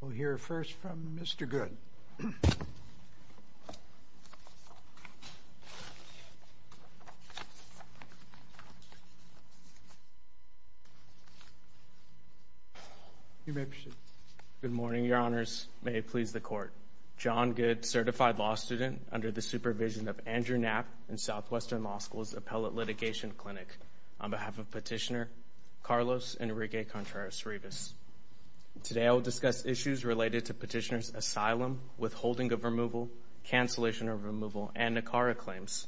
We'll hear first from Mr. Goode. You may proceed. Good morning, Your Honors. May it please the Court. John Goode, certified law student under the supervision of Andrew Knapp and Southwestern Law School's Appellate Litigation Clinic, on behalf of Today, I will discuss issues related to Petitioner's asylum, withholding of removal, cancellation of removal, and NACARA claims.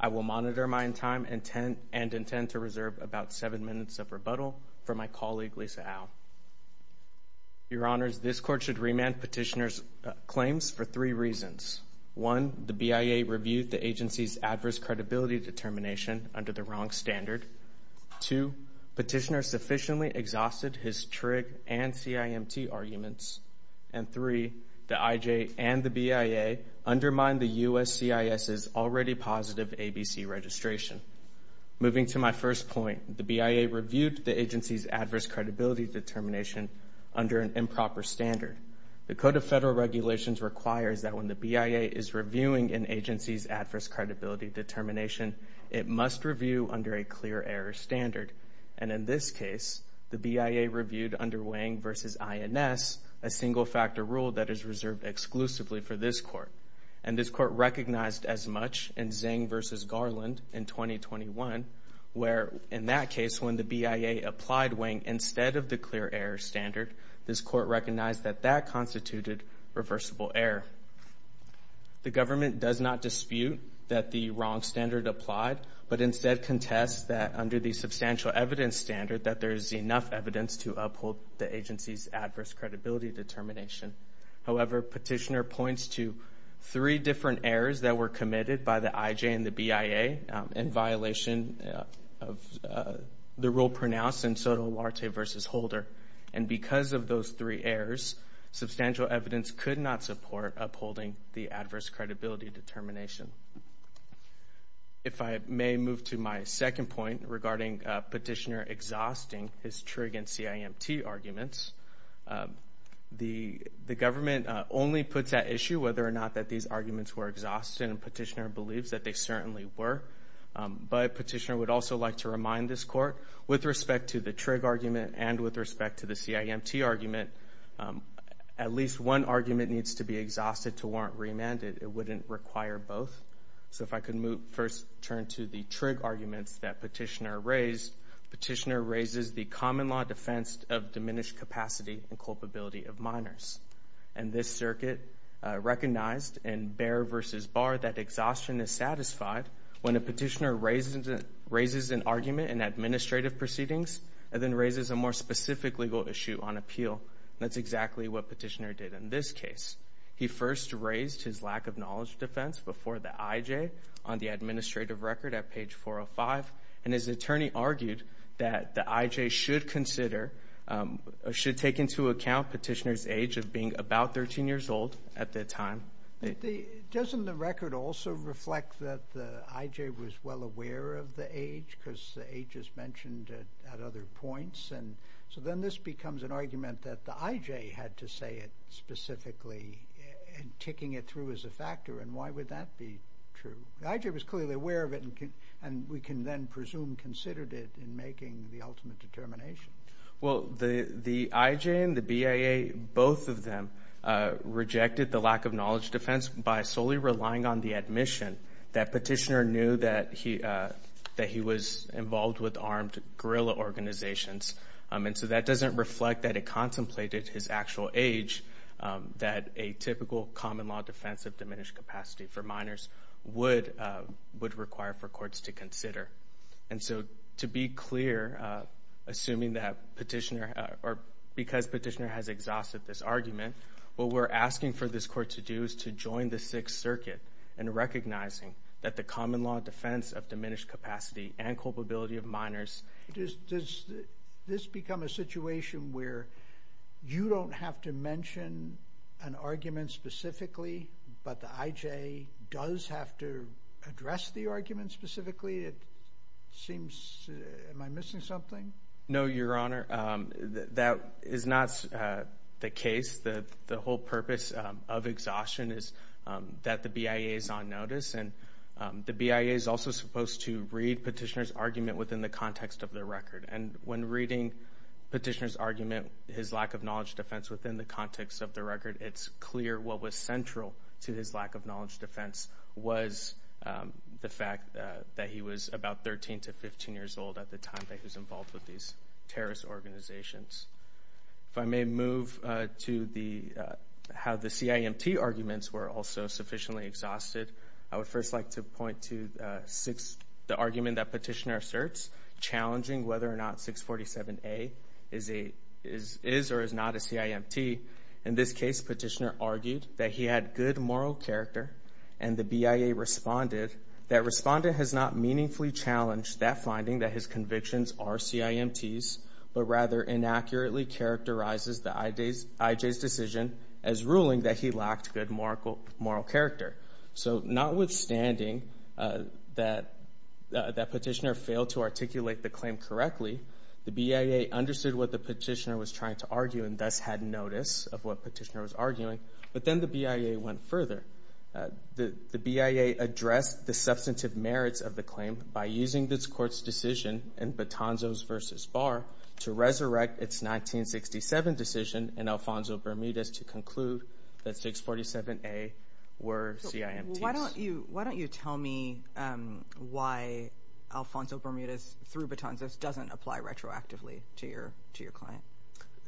I will monitor my time and intend to reserve about seven minutes of rebuttal for my colleague Lisa Au. Your Honors, this Court should remand Petitioner's claims for three reasons. One, the BIA reviewed the agency's adverse credibility determination under the wrong standard. Two, Petitioner sufficiently exhausted his TRIG and CIMT arguments. And three, the IJ and the BIA undermined the USCIS's already positive ABC registration. Moving to my first point, the BIA reviewed the agency's adverse credibility determination under an improper standard. The Code of Federal Regulations requires that when the BIA is reviewing an agency's adverse credibility determination, it must review under a clear error standard. And in this case, the BIA reviewed under Wang versus INS, a single factor rule that is reserved exclusively for this Court. And this Court recognized as much in Zeng versus Garland in 2021, where in that case, when the BIA applied Wang instead of the clear error standard, this Court recognized that that constituted reversible error. The government does not dispute that the wrong standard applied, but instead contests that under the substantial evidence standard, that there is enough evidence to uphold the agency's adverse credibility determination. However, Petitioner points to three different errors that were committed by the IJ and the BIA in violation of the rule pronounced in Soto Oluarte versus Holder. And because of those three errors, substantial evidence could not support upholding the adverse credibility determination. If I may move to my second point regarding Petitioner exhausting his TRIG and CIMT arguments, the government only puts at issue whether or not that these arguments were exhausted, and Petitioner believes that they certainly were. But Petitioner would also like to remind this Court, with respect to the TRIG argument and with respect to the CIMT argument, at least one argument needs to be exhausted to warrant remand. It wouldn't require both. So if I could first turn to the TRIG arguments that Petitioner raised, Petitioner raises the common law defense of diminished capacity and culpability of minors. And this Circuit recognized in Bair versus Barr that exhaustion is satisfied when a Petitioner raises an argument in administrative proceedings and then raises a more specific legal issue on appeal. That's exactly what Petitioner did in this case. He first raised his lack of knowledge defense before the IJ on the administrative record at page 405, and his attorney argued that the IJ should consider, should take into account Petitioner's age of being about 13 years old at that time. Doesn't the record also reflect that the IJ was well aware of the age because the age is mentioned at other points? And so then this becomes an argument that the IJ had to say it specifically and ticking it through as a factor. And why would that be true? The IJ was clearly aware of it and we can then presume considered it in making the ultimate determination. Well, the IJ and the BIA, both of them rejected the lack of knowledge defense by solely relying on the admission that Petitioner knew that he was involved with and contemplated his actual age that a typical common law defense of diminished capacity for minors would require for courts to consider. And so to be clear, assuming that Petitioner, or because Petitioner has exhausted this argument, what we're asking for this court to do is to join the Sixth Circuit in recognizing that the common law defense of diminished capacity and this become a situation where you don't have to mention an argument specifically, but the IJ does have to address the argument specifically. It seems, am I missing something? No, Your Honor. That is not the case. The whole purpose of exhaustion is that the BIA is on notice and the BIA is also supposed to read Petitioner's argument within the context of the record. And when reading Petitioner's argument, his lack of knowledge defense within the context of the record, it's clear what was central to his lack of knowledge defense was the fact that he was about 13 to 15 years old at the time that he was involved with these terrorist organizations. If I may move to the how the CIMT arguments were also sufficiently exhausted, I would first like to point to the argument that Petitioner asserts, challenging whether or not 647A is or is not a CIMT. In this case, Petitioner argued that he had good moral character and the BIA responded. That respondent has not meaningfully challenged that finding that his convictions are CIMT's, but rather inaccurately characterizes the IJ's decision as ruling that he lacked good moral character. So notwithstanding that Petitioner failed to reasonably, the BIA understood what the Petitioner was trying to argue and thus had notice of what Petitioner was arguing, but then the BIA went further. The BIA addressed the substantive merits of the claim by using this court's decision in Batanzos versus Barr to resurrect its 1967 decision in Alfonso Bermudez to conclude that 647A were CIMT's. Why don't you tell me why Alfonso Bermudez through Batanzos doesn't apply retroactively to your client?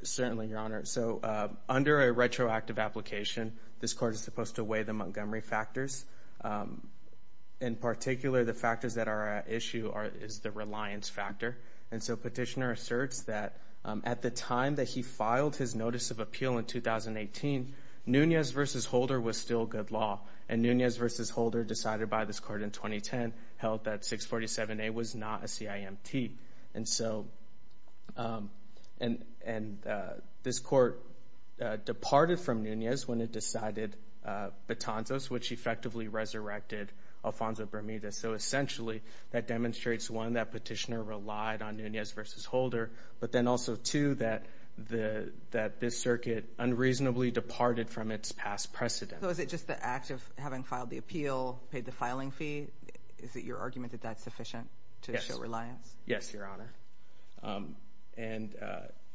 Certainly, Your Honor. So under a retroactive application, this court is supposed to weigh the Montgomery factors. In particular, the factors that are at issue is the reliance factor. And so Petitioner asserts that at the time that he filed his notice of appeal in 2018, Nunez versus Holder was still good law. And Nunez versus Holder, decided by this court in 2010, held that 647A was not a CIMT. And so, and this court departed from Nunez when it decided Batanzos, which effectively resurrected Alfonso Bermudez. So essentially, that demonstrates, one, that Petitioner relied on Nunez versus Holder, but then also, two, that this circuit unreasonably departed from its past precedent. So is it just the act of having filed the appeal, paid the filing fee, is it your argument that that's sufficient to show reliance? Yes, Your Honor. And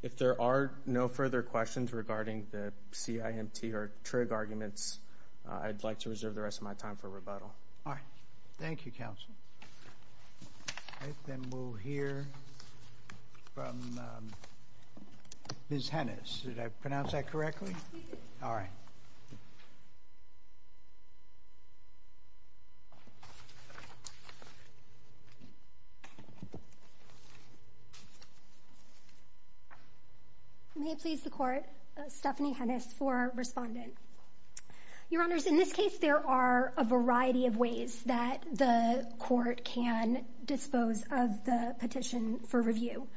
if there are no further questions regarding the CIMT or Trigg arguments, I'd like to reserve the rest of my time for rebuttal. All right. Thank you, counsel. Then we'll hear from Ms. Hennis. Did I pronounce that correctly? All right. May it please the Court, Stephanie Hennis for Respondent. Your Honors, in this case, there are a variety of ways that the court can dispose of the petition for asylum.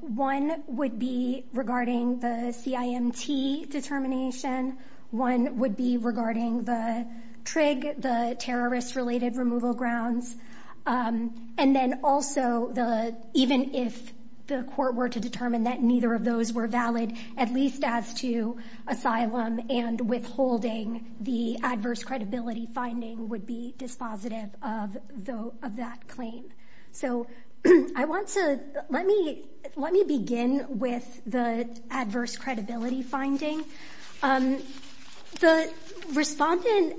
One would be regarding the CIMT determination. One would be regarding the Trigg, the terrorist-related removal grounds. And then also, even if the court were to determine that neither of those were valid, at least as to asylum and withholding, the adverse credibility finding would be dispositive of that claim. So I want to, let me, let me begin with the adverse credibility finding. The respondent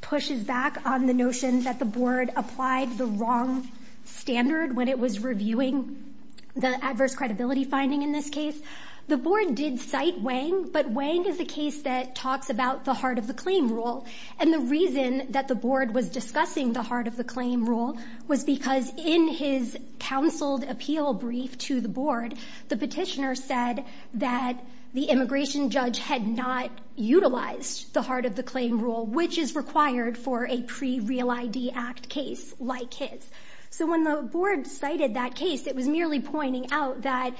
pushes back on the notion that the board applied the wrong standard when it was reviewing the adverse credibility finding in this case. The board did cite Wang, but Wang is a case that talks about the heart of the claim rule. And the reason that the board was discussing the heart of the claim rule was because in his counseled appeal brief to the board, the petitioner said that the immigration judge had not utilized the heart of the claim rule, which is required for a pre-Real ID Act case like his. So when the board cited that case, it was merely pointing out that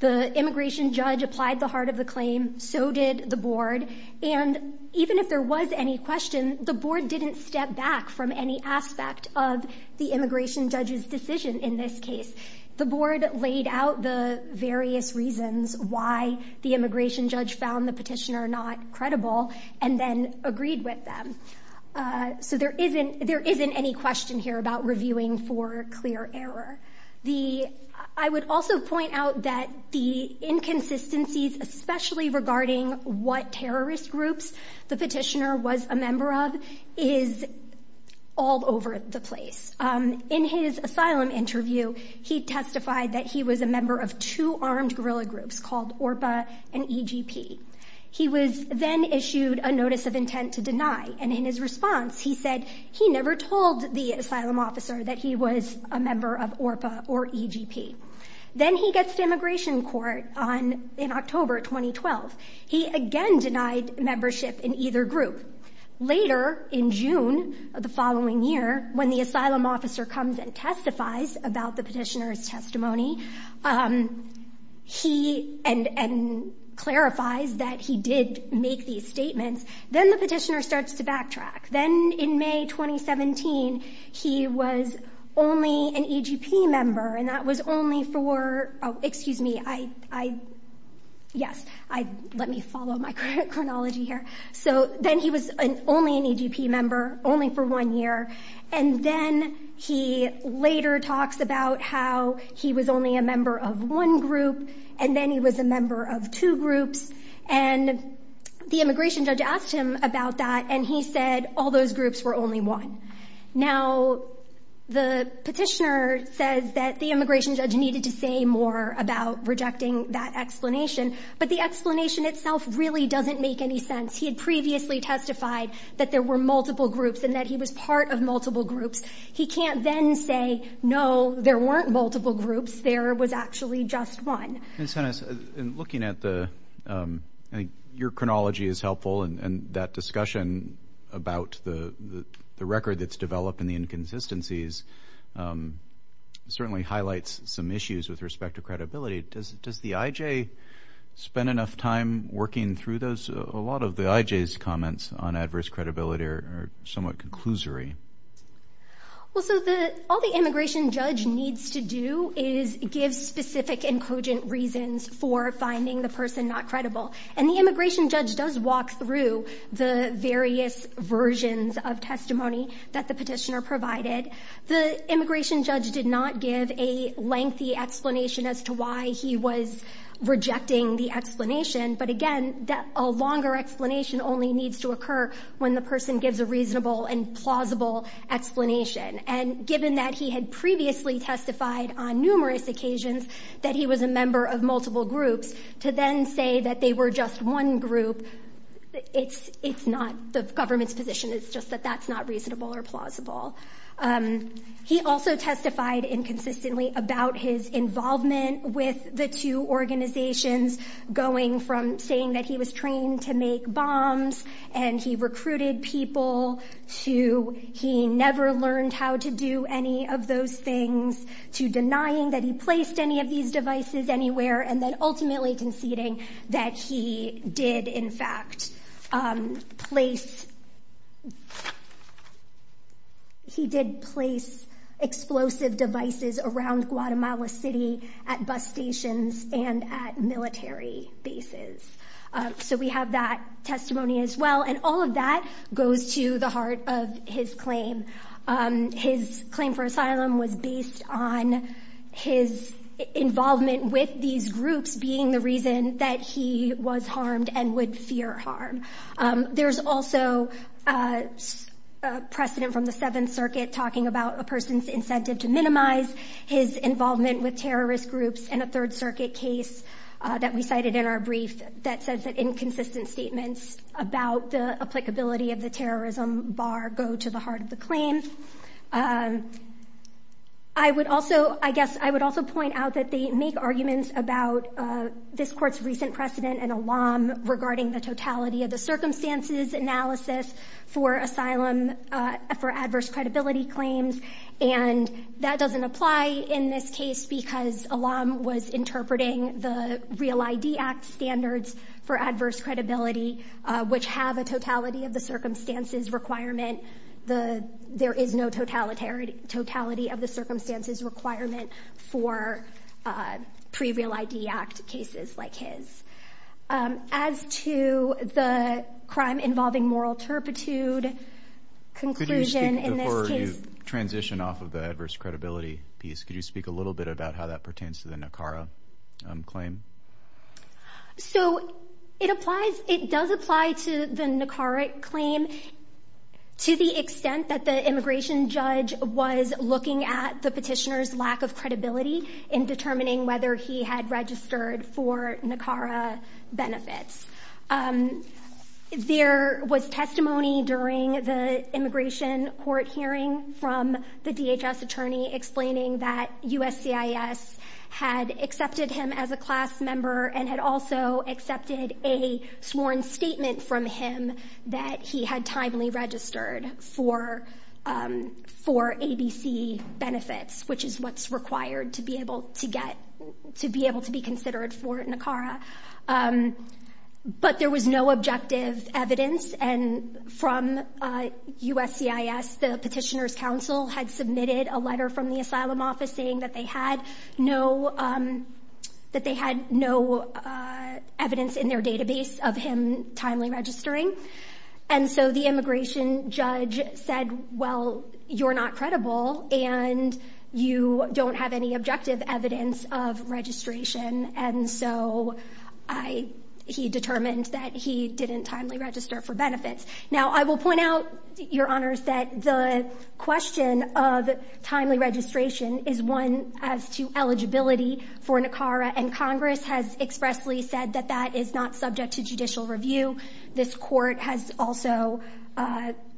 the immigration judge applied the heart of the claim, so did the board. And even if there was any question, the board didn't step back from any aspect of the immigration judge's decision in this case. The board laid out the various reasons why the immigration judge found the petitioner not credible, and then agreed with them. So there isn't, there isn't any question here about reviewing for clear error. The, I would also point out that the inconsistencies, especially regarding what terrorist groups the is all over the place. In his asylum interview, he testified that he was a member of two armed guerrilla groups called ORPA and EGP. He was then issued a notice of intent to deny, and in his response, he said he never told the asylum officer that he was a member of ORPA or EGP. Then he gets to immigration court on, in October 2012. He again denied membership in either group. Later, in June of the following year, when the asylum officer comes and testifies about the petitioner's testimony, he, and, and clarifies that he did make these statements. Then the petitioner starts to backtrack. Then in May 2017, he was only an EGP member, and that was only for, oh, excuse me, I, I, yes, I, let me follow my chronology here. So, then he was an, only an EGP member, only for one year, and then he later talks about how he was only a member of one group, and then he was a member of two groups, and the immigration judge asked him about that, and he said all those groups were only one. Now, the petitioner says that the immigration judge needed to say more about rejecting that explanation, but the doesn't make any sense. He had previously testified that there were multiple groups and that he was part of multiple groups. He can't then say, no, there weren't multiple groups, there was actually just one. And, and looking at the, I think your chronology is helpful, and, and that discussion about the, the record that's developed and the inconsistencies certainly highlights some issues with respect to credibility. Does, does the IJ spend enough time working through those? A lot of the IJ's comments on adverse credibility are somewhat conclusory. Well, so the, all the immigration judge needs to do is give specific and cogent reasons for finding the person not credible, and the immigration judge does walk through the various versions of testimony that the petitioner provided. The immigration judge did not give a reason for rejecting the explanation, but again, that, a longer explanation only needs to occur when the person gives a reasonable and plausible explanation. And given that he had previously testified on numerous occasions that he was a member of multiple groups, to then say that they were just one group, it's, it's not the government's position. It's just that that's not reasonable or plausible. He also testified inconsistently about his involvement with the two organizations, going from saying that he was trained to make bombs and he recruited people, to he never learned how to do any of those things, to denying that he placed any of these devices anywhere, and then ultimately conceding that he did, in fact, place, he did place explosive devices around Guatemala City at bus stations and at military bases. So we have that testimony as well, and all of that goes to the heart of his claim. His claim for asylum was based on his involvement with these groups being the reason that he was harmed and would fear harm. There's also a precedent from the Seventh Amendment involvement with terrorist groups in a Third Circuit case that we cited in our brief that says that inconsistent statements about the applicability of the terrorism bar go to the heart of the claim. I would also, I guess, I would also point out that they make arguments about this court's recent precedent and alarm regarding the totality of the circumstances analysis for asylum for adverse credibility claims, and that doesn't apply in this case because Alam was interpreting the Real ID Act standards for adverse credibility, which have a totality of the circumstances requirement. There is no totality of the circumstances requirement for pre-Real ID Act cases like his. As to the crime involving moral turpitude conclusion in this case... Before you transition off of the adverse credibility piece, could you speak a little bit about how that pertains to the Nicara claim? So it applies, it does apply to the Nicara claim to the extent that the immigration judge was looking at the petitioner's lack of credibility in Nicara benefits. There was testimony during the immigration court hearing from the DHS attorney explaining that USCIS had accepted him as a class member and had also accepted a sworn statement from him that he had timely registered for ABC benefits, which is what's required to be able to get, to be considered for Nicara. But there was no objective evidence and from USCIS, the petitioner's counsel had submitted a letter from the asylum office saying that they had no, that they had no evidence in their database of him timely registering. And so the immigration judge said, well, you're not credible and you don't have any objective evidence of registration. And so I, he determined that he didn't timely register for benefits. Now, I will point out, your honors, that the question of timely registration is one as to eligibility for Nicara and Congress has expressly said that that is not subject to judicial review. This court has also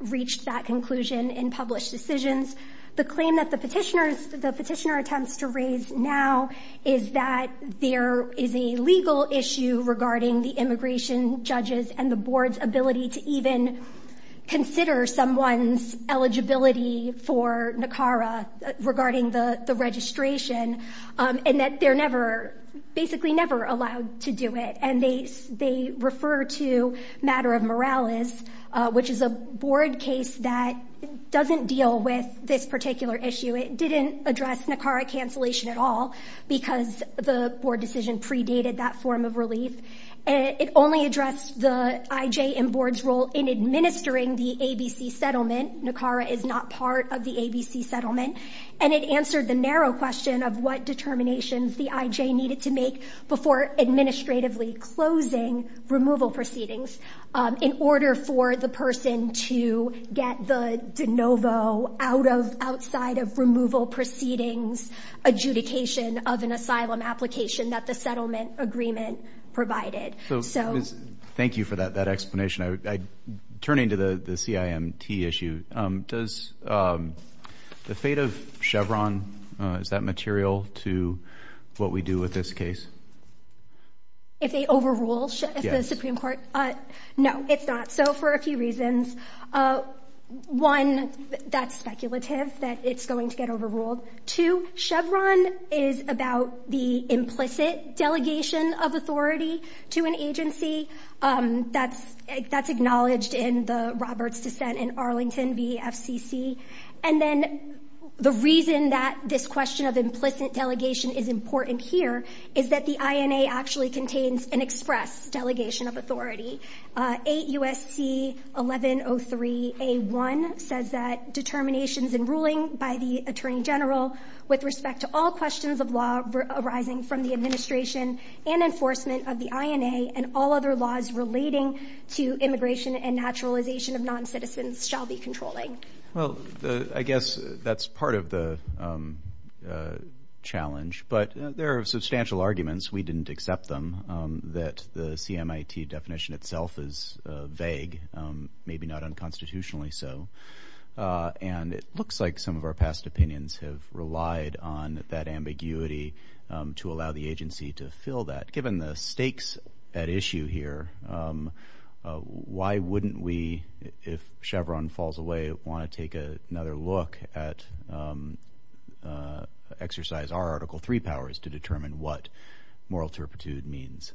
reached that conclusion in published decisions. The claim that the petitioners, the petitioner attempts to raise now is that there is a legal issue regarding the immigration judges and the board's ability to even consider someone's eligibility for Nicara regarding the registration and that they're never, basically never allowed to do it. And they, they refer to matter of morales, which is a board case that doesn't deal with this particular issue. It didn't address Nicara cancellation at all because the board decision predated that form of relief. It only addressed the IJ and board's role in administering the ABC settlement. Nicara is not part of the ABC settlement. And it answered the narrow question of what determinations the IJ needed to make before administratively closing removal proceedings in order for the person to get the de novo outside of removal proceedings adjudication of an asylum application that the settlement agreement provided. So thank you for that explanation. Turning to the CIMT issue, does the fate of Chevron, is that material to what we do with this report? No, it's not. So for a few reasons. One, that's speculative, that it's going to get overruled. Two, Chevron is about the implicit delegation of authority to an agency. That's, that's acknowledged in the Roberts dissent in Arlington v. FCC. And then the reason that this question of implicit delegation is important here is that the INA actually contains an express delegation of authority. 8 U.S.C. 1103 A.1 says that determinations in ruling by the Attorney General with respect to all questions of law arising from the administration and enforcement of the INA and all other laws relating to immigration and naturalization of non-citizens shall be controlling. Well, I guess that's part of the challenge. But there are substantial arguments. We didn't accept them, that the CIMT definition itself is vague, maybe not unconstitutionally so. And it looks like some of our past opinions have relied on that ambiguity to allow the agency to fill that. Given the stakes at issue here, why wouldn't we, if Chevron falls away, want to take another look at exercise our Article 3 powers to determine what moral turpitude means?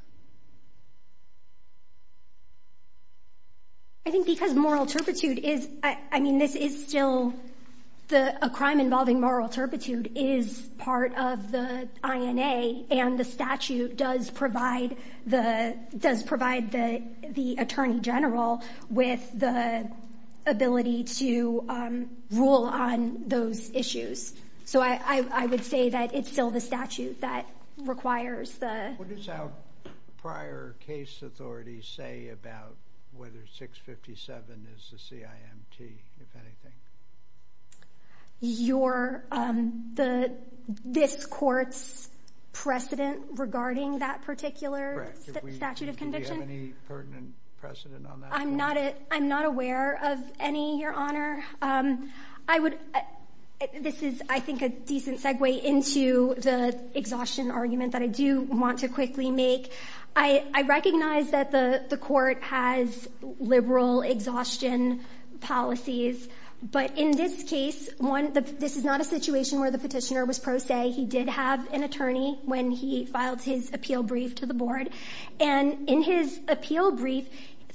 I think because moral turpitude is, I mean, this is still the, a crime involving moral turpitude is part of the INA and the statute does provide the, does provide the, the Attorney General with the ability to rule on those issues. So I, I would say that it's still the statute that requires the... What does our prior case authority say about whether 657 is the CIMT, if anything? Your, the, this court's precedent regarding that particular statute of conviction? Correct. Do we have any pertinent precedent on that? I'm not, I'm not aware of any, Your Honor. I would, I, this is, I think, a decent segue into the exhaustion argument that I do want to quickly make. I, I recognize that the, the court has liberal exhaustion policies, but in this case, one, the, this is not a situation where the petitioner was pro se. He did have an attorney when he filed his appeal brief to the board. And in his appeal brief,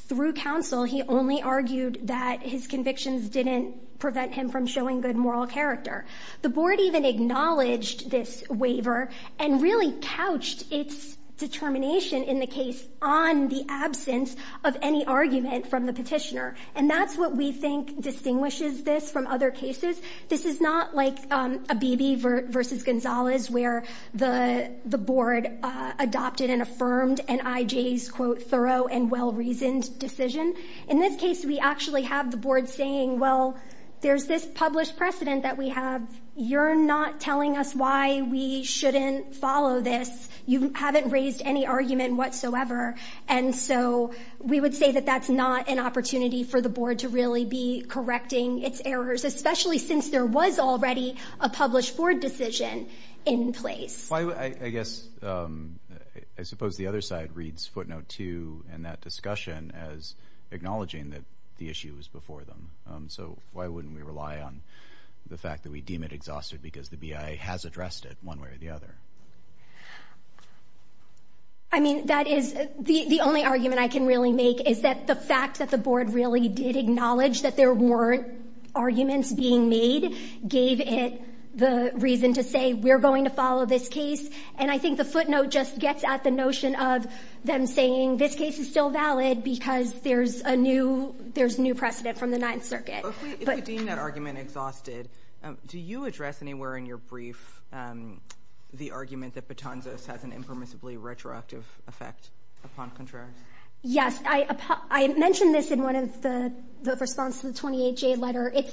through counsel, he only argued that his convictions didn't prevent him from showing good moral character. The board even acknowledged this waiver and really couched its determination in the case on the absence of any argument from the petitioner. And that's what we think distinguishes this from other cases. This is not like Abebe v. Gonzalez, where the, the board adopted and affirmed NIJ's, quote, thorough and well-reasoned decision. In this case, we actually have the board saying, well, there's this published precedent that we have. You're not telling us why we shouldn't follow this. You haven't raised any argument whatsoever. And so, we would say that that's not an opportunity for the board to really be correcting its errors, especially since there was already a published board decision in place. I, I guess, I suppose the other side reads footnote two in that discussion as acknowledging that the issue was before them. So, why wouldn't we rely on the fact that we deem it exhausted because the BIA has addressed it one way or the other? I mean, that is the, the only argument I can really make is that the fact that the board really did acknowledge that there weren't arguments being made gave it the reason to say, we're going to follow this case. And I think the footnote just gets at the notion of them saying, this case is still valid because there's a new, there's new precedent from the Ninth Circuit. But we, if we deem that argument exhausted, do you address anywhere in your brief the argument that Patanzas has an impermissibly retroactive effect upon Contreras? Yes. I, I mentioned this in one of the, the response to the 28-J letter. It's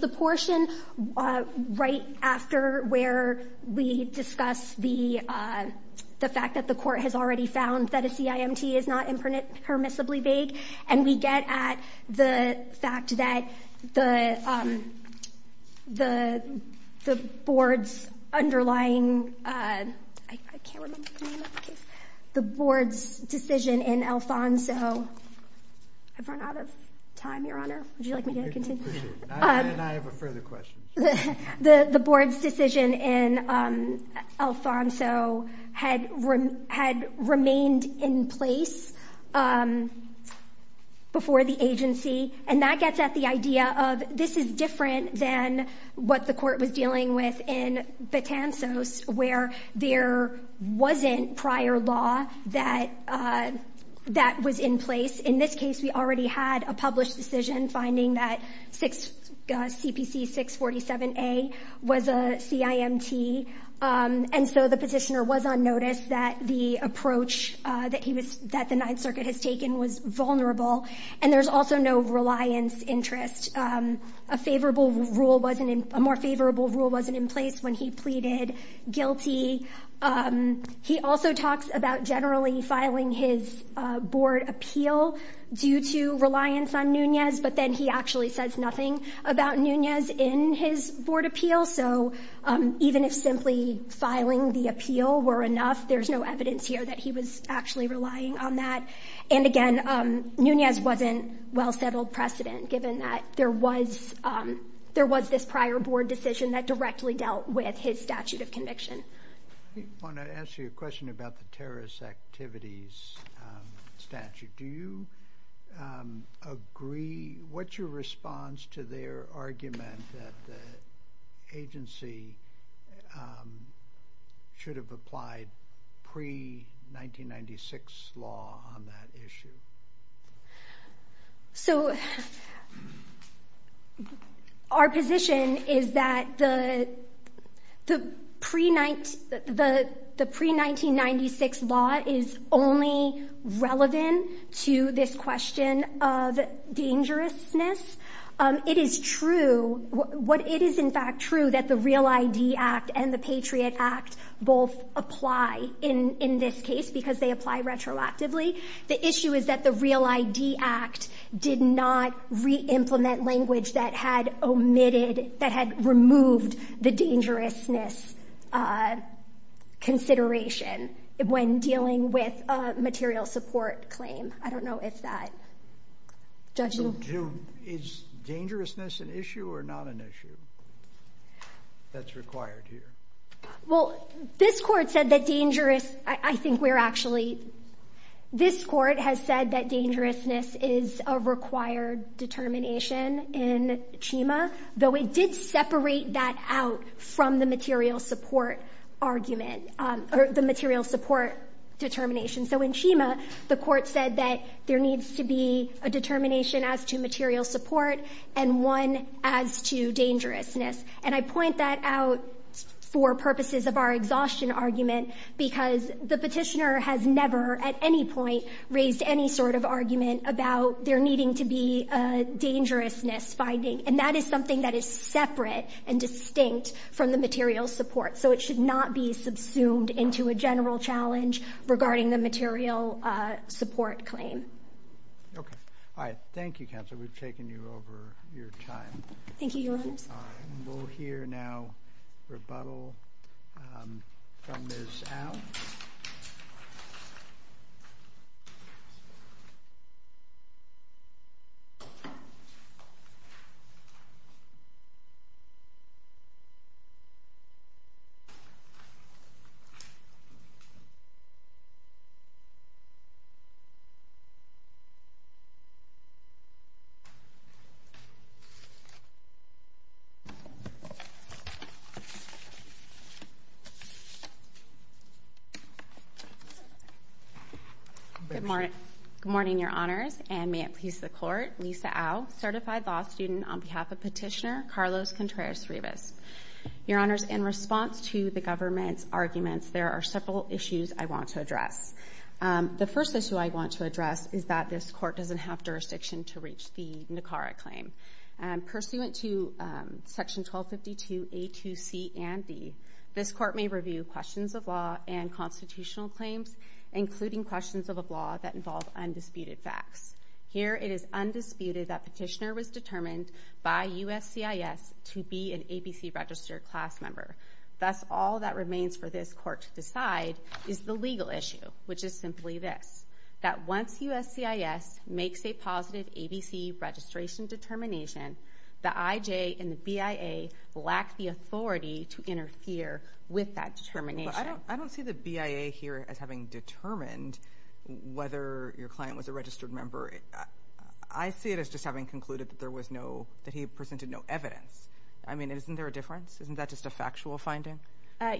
the fact that the court has already found that a CIMT is not impermissibly vague. And we get at the fact that the, the, the board's underlying, I, I can't remember the name of the case, the board's decision in Alfonso. I've run out of time, Your Honor. Would you like me to continue? And I have a further question. The, the, the board's decision in Alfonso had, had remained in place before the agency. And that gets at the idea of, this is different than what the court was dealing with in Patanzas, where there wasn't prior law that, that was in place. In this case, we already had a published decision finding that 6, CPC 647A was a CIMT. And so the petitioner was on notice that the approach that he was, that the Ninth Circuit has taken was vulnerable. And there's also no reliance interest. A favorable rule wasn't in, a more favorable rule wasn't in place when he pleaded guilty. He also talks about generally filing his board appeal due to reliance on Nunez, but then he actually says nothing about Nunez in his board appeal. So even if simply filing the appeal were enough, there's no evidence here that he was actually relying on that. And again, Nunez wasn't well-settled precedent, given that there was, there was this prior board decision that directly dealt with his statute of conviction. I want to ask you a question about the terrorist activities statute. Do you agree, what's your response to their argument that the agency should have applied pre-1996 law on that issue? So, our position is that the pre-1996 law is only relevant to this question of dangerousness. It is true, it is in fact true that the Real ID Act and the Patriot Act both apply in this case because they apply retroactively. The issue is that the Real ID Act did not re-implement language that had omitted, that had removed the dangerousness consideration when dealing with a material support claim. I don't know if that. Is dangerousness an issue or not an issue that's required here? Well, this court said that dangerous, I think we're actually, this court has said that dangerousness is a required determination in CHEMA, though it did separate that out from the material support argument, or the material support determination. So in CHEMA, the court said that there needs to be a determination as to material support and one as to dangerousness. And I point that out for purposes of our exhaustion argument because the Petitioner has never, at any point, raised any sort of argument about there needing to be a dangerousness finding. And that is something that is separate and distinct from the material support. So it should not be subsumed into a general challenge regarding the material support claim. Okay. All right. Thank you, Counselor. We've taken you over your time. Thank you, Your Honors. We'll hear now rebuttal from Ms. Al. Good morning, Your Honors. And may it please the Court, Lisa Al, certified law student on behalf of Petitioner Carlos Contreras-Rivas. Your Honors, in response to the government's arguments, there are several issues I want to address. The first issue I want to address is that this court doesn't have jurisdiction to reach the NACARA claim. Pursuant to Section 1252A2C&D, this court may review questions of law and constitutional claims, including questions of law that involve undisputed facts. Here, it is undisputed that Petitioner was determined by USCIS to be an ABC registered class member. Thus, all that remains for this court to decide is the legal issue, which is simply this, that once USCIS makes a positive ABC registration determination, the IJ and the BIA lack the authority to interfere with that determination. I don't see the BIA here as having determined whether your client was a registered member. I see it as just having concluded that he presented no evidence. I mean, isn't there a difference? Isn't that just a factual finding?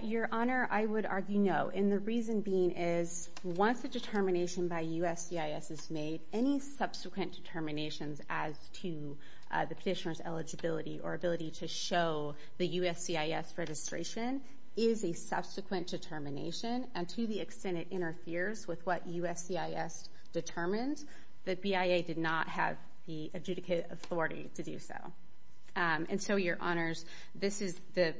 Your Honor, I would argue no, and the reason being is once a determination by USCIS is made, any subsequent determinations as to the petitioner's eligibility or ability to show the USCIS registration is a subsequent determination, and to the extent it interferes with what USCIS determines, the BIA did not have the adjudicated authority to do so. And so, Your Honors, the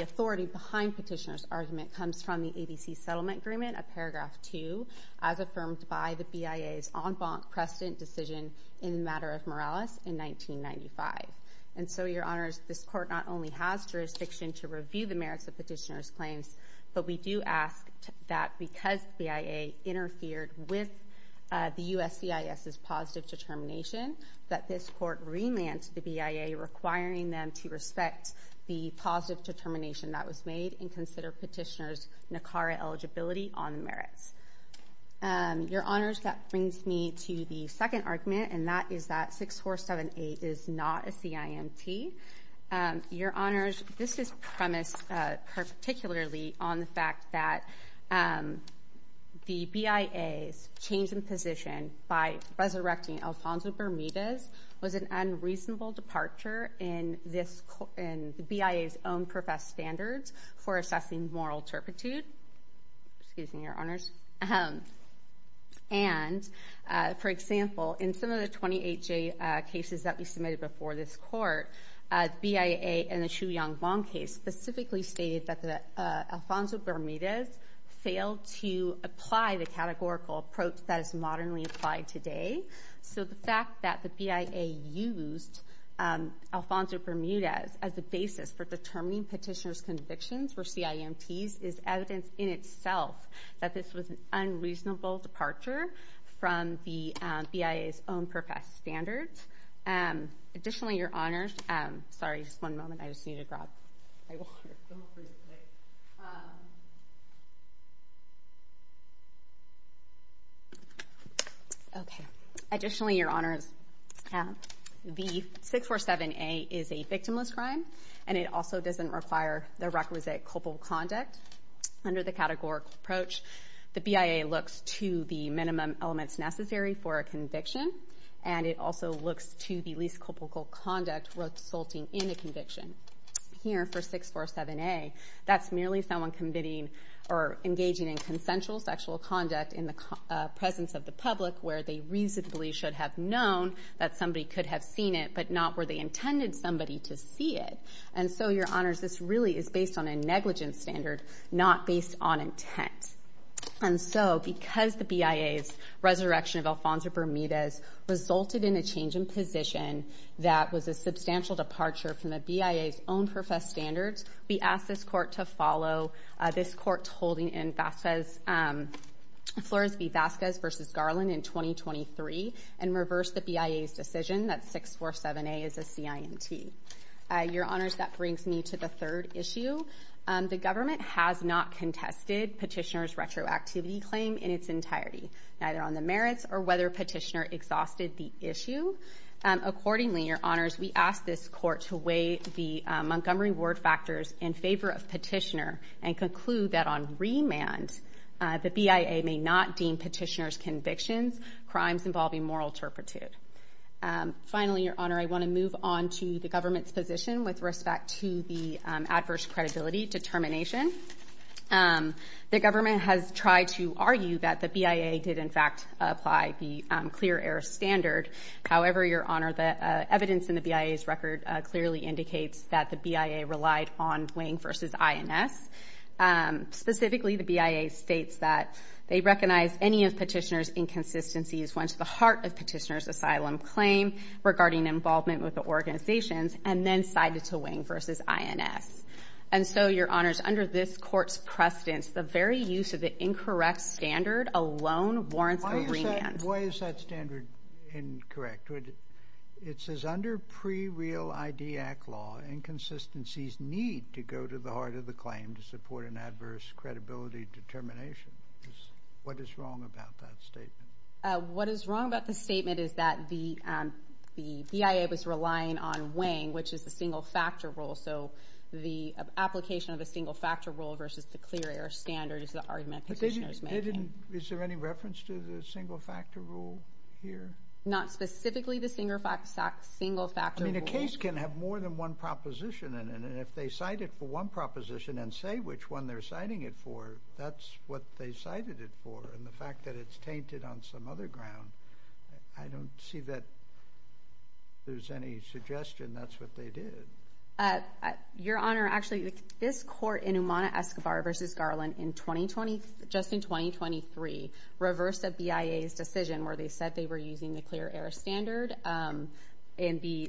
authority behind Petitioner's argument comes from the ABC Settlement Agreement, a paragraph 2, as affirmed by the BIA's en banc precedent decision in the matter of Morales in 1995. And so, Your Honors, this court not only has jurisdiction to review the merits of petitioner's claims, but we do ask that because the BIA interfered with the USCIS's positive determination, that this court relance the BIA requiring them to respect the positive determination that was made and consider petitioner's NACARA eligibility on the merits. Your Honors, that brings me to the second argument, and that is that 6478 is not a CIMT. Your Honors, this is premised particularly on the fact that the BIA's change in position by resurrecting Alfonso Bermudez was an unreasonable departure in the BIA's own professed standards for assessing moral turpitude. Excuse me, Your Honors. And, for example, in some of the 28J cases that we submitted before this court, the BIA in the Chu Yang Bong case specifically stated that Alfonso Bermudez failed to apply the categorical approach that is modernly applied today. So the fact that the BIA used Alfonso Bermudez as the basis for determining petitioner's convictions for CIMTs is evidence in itself that this was an unreasonable departure from the BIA's own professed standards. Additionally, Your Honors, the 6478 is a victimless crime, and it also doesn't require the requisite culpable conduct under the categorical approach. The BIA looks to the minimum elements necessary for a conviction, and it also looks to the least culpable conduct resulting in a conviction. Here, for 6478, that's merely someone engaging in consensual sexual conduct in the presence of the public where they reasonably should have known that somebody could have seen it, but not where they intended somebody to see it. And so, Your Honors, this really is based on a negligence standard, not based on intent. And so, because the BIA's resurrection of Alfonso Bermudez resulted in a change in position that was a substantial departure from the BIA's own professed standards, we ask this court to follow this court's holding in Flores v. Vasquez v. Garland in 2023 and reverse the BIA's decision that 6478 is a CIMT. Your Honors, that brings me to the third issue. The government has not contested Petitioner's retroactivity claim in its entirety, neither on the merits or whether Petitioner exhausted the issue. Accordingly, Your Honors, we ask this court to weigh the Montgomery Ward factors in favor of Petitioner and conclude that on remand, the BIA may not deem Petitioner's convictions crimes involving moral turpitude. Finally, Your Honor, I want to move on to the government's position with respect to the adverse credibility determination. The government has tried to argue that the BIA did, in fact, apply the clear error standard. However, Your Honor, the evidence in the BIA's record clearly indicates that the BIA relied on Wang v. INS. Specifically, the BIA states that they recognize any of Petitioner's inconsistencies once the heart of Petitioner's asylum claim regarding involvement with the organizations and then cited to Wang v. INS. And so, Your Honors, under this court's precedence, the very use of the incorrect standard alone warrants a remand. Why is that standard incorrect? It says under pre-real ID Act law, inconsistencies need to go to the heart of the claim to support an adverse credibility determination. What is wrong about that statement? What is wrong about the statement is that the BIA was relying on Wang, which is the single factor rule. So the application of the single factor rule versus the clear error standard is the argument Petitioner is making. Is there any reference to the single factor rule here? Not specifically the single factor rule. I mean, a case can have more than one proposition in it. And if they cite it for one proposition and say which one they're citing it for, that's what they cited it for. And the fact that it's tainted on some other ground, I don't see that there's any suggestion that's what they did. Your Honor, actually, this court in Umana Escobar versus Garland in 2020, just in 2023, reversed the BIA's decision where they said they were using the clear error standard in the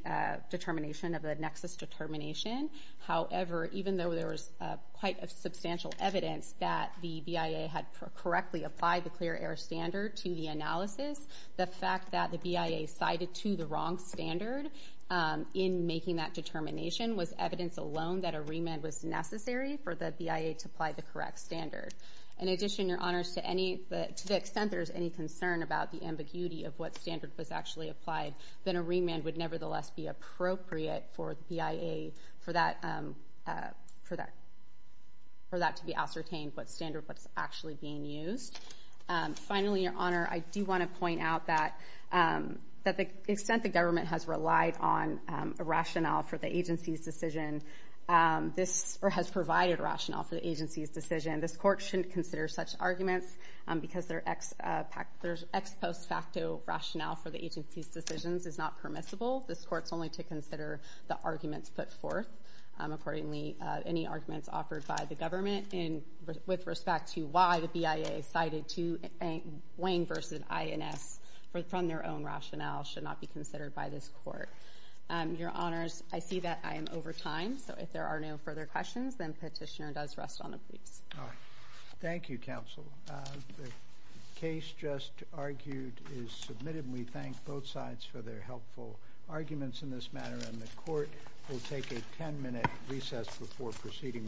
determination of the nexus determination. However, even though there was quite a substantial evidence that the BIA had correctly applied the clear error standard to the analysis, the fact that the BIA cited to the wrong standard in making that determination was evidence alone that a remand was necessary for the BIA to apply the correct standard. In addition, Your Honor, to the extent there's any concern about the ambiguity of what standard was actually applied, then a remand would nevertheless be appropriate for the BIA for that to be ascertained what standard was actually being used. Finally, Your Honor, I do want to point out that the extent the government has relied on a rationale for the agency's decision, or has provided rationale for the agency's decision, this court shouldn't consider such arguments because their ex post facto rationale for the agency's decisions is not permissible. This court's only to consider the arguments put forth, accordingly, any arguments offered by the government with respect to why the BIA cited to Wang versus INS from their own rationale should not be considered by this court. Your Honors, I see that I am over time, so if there are no further questions, then Petitioner does rest on the briefs. Thank you, Counsel. The case just argued is submitted, and we thank both sides for their helpful arguments in this matter, and the Court will take a 10-minute recess before proceeding with the next case.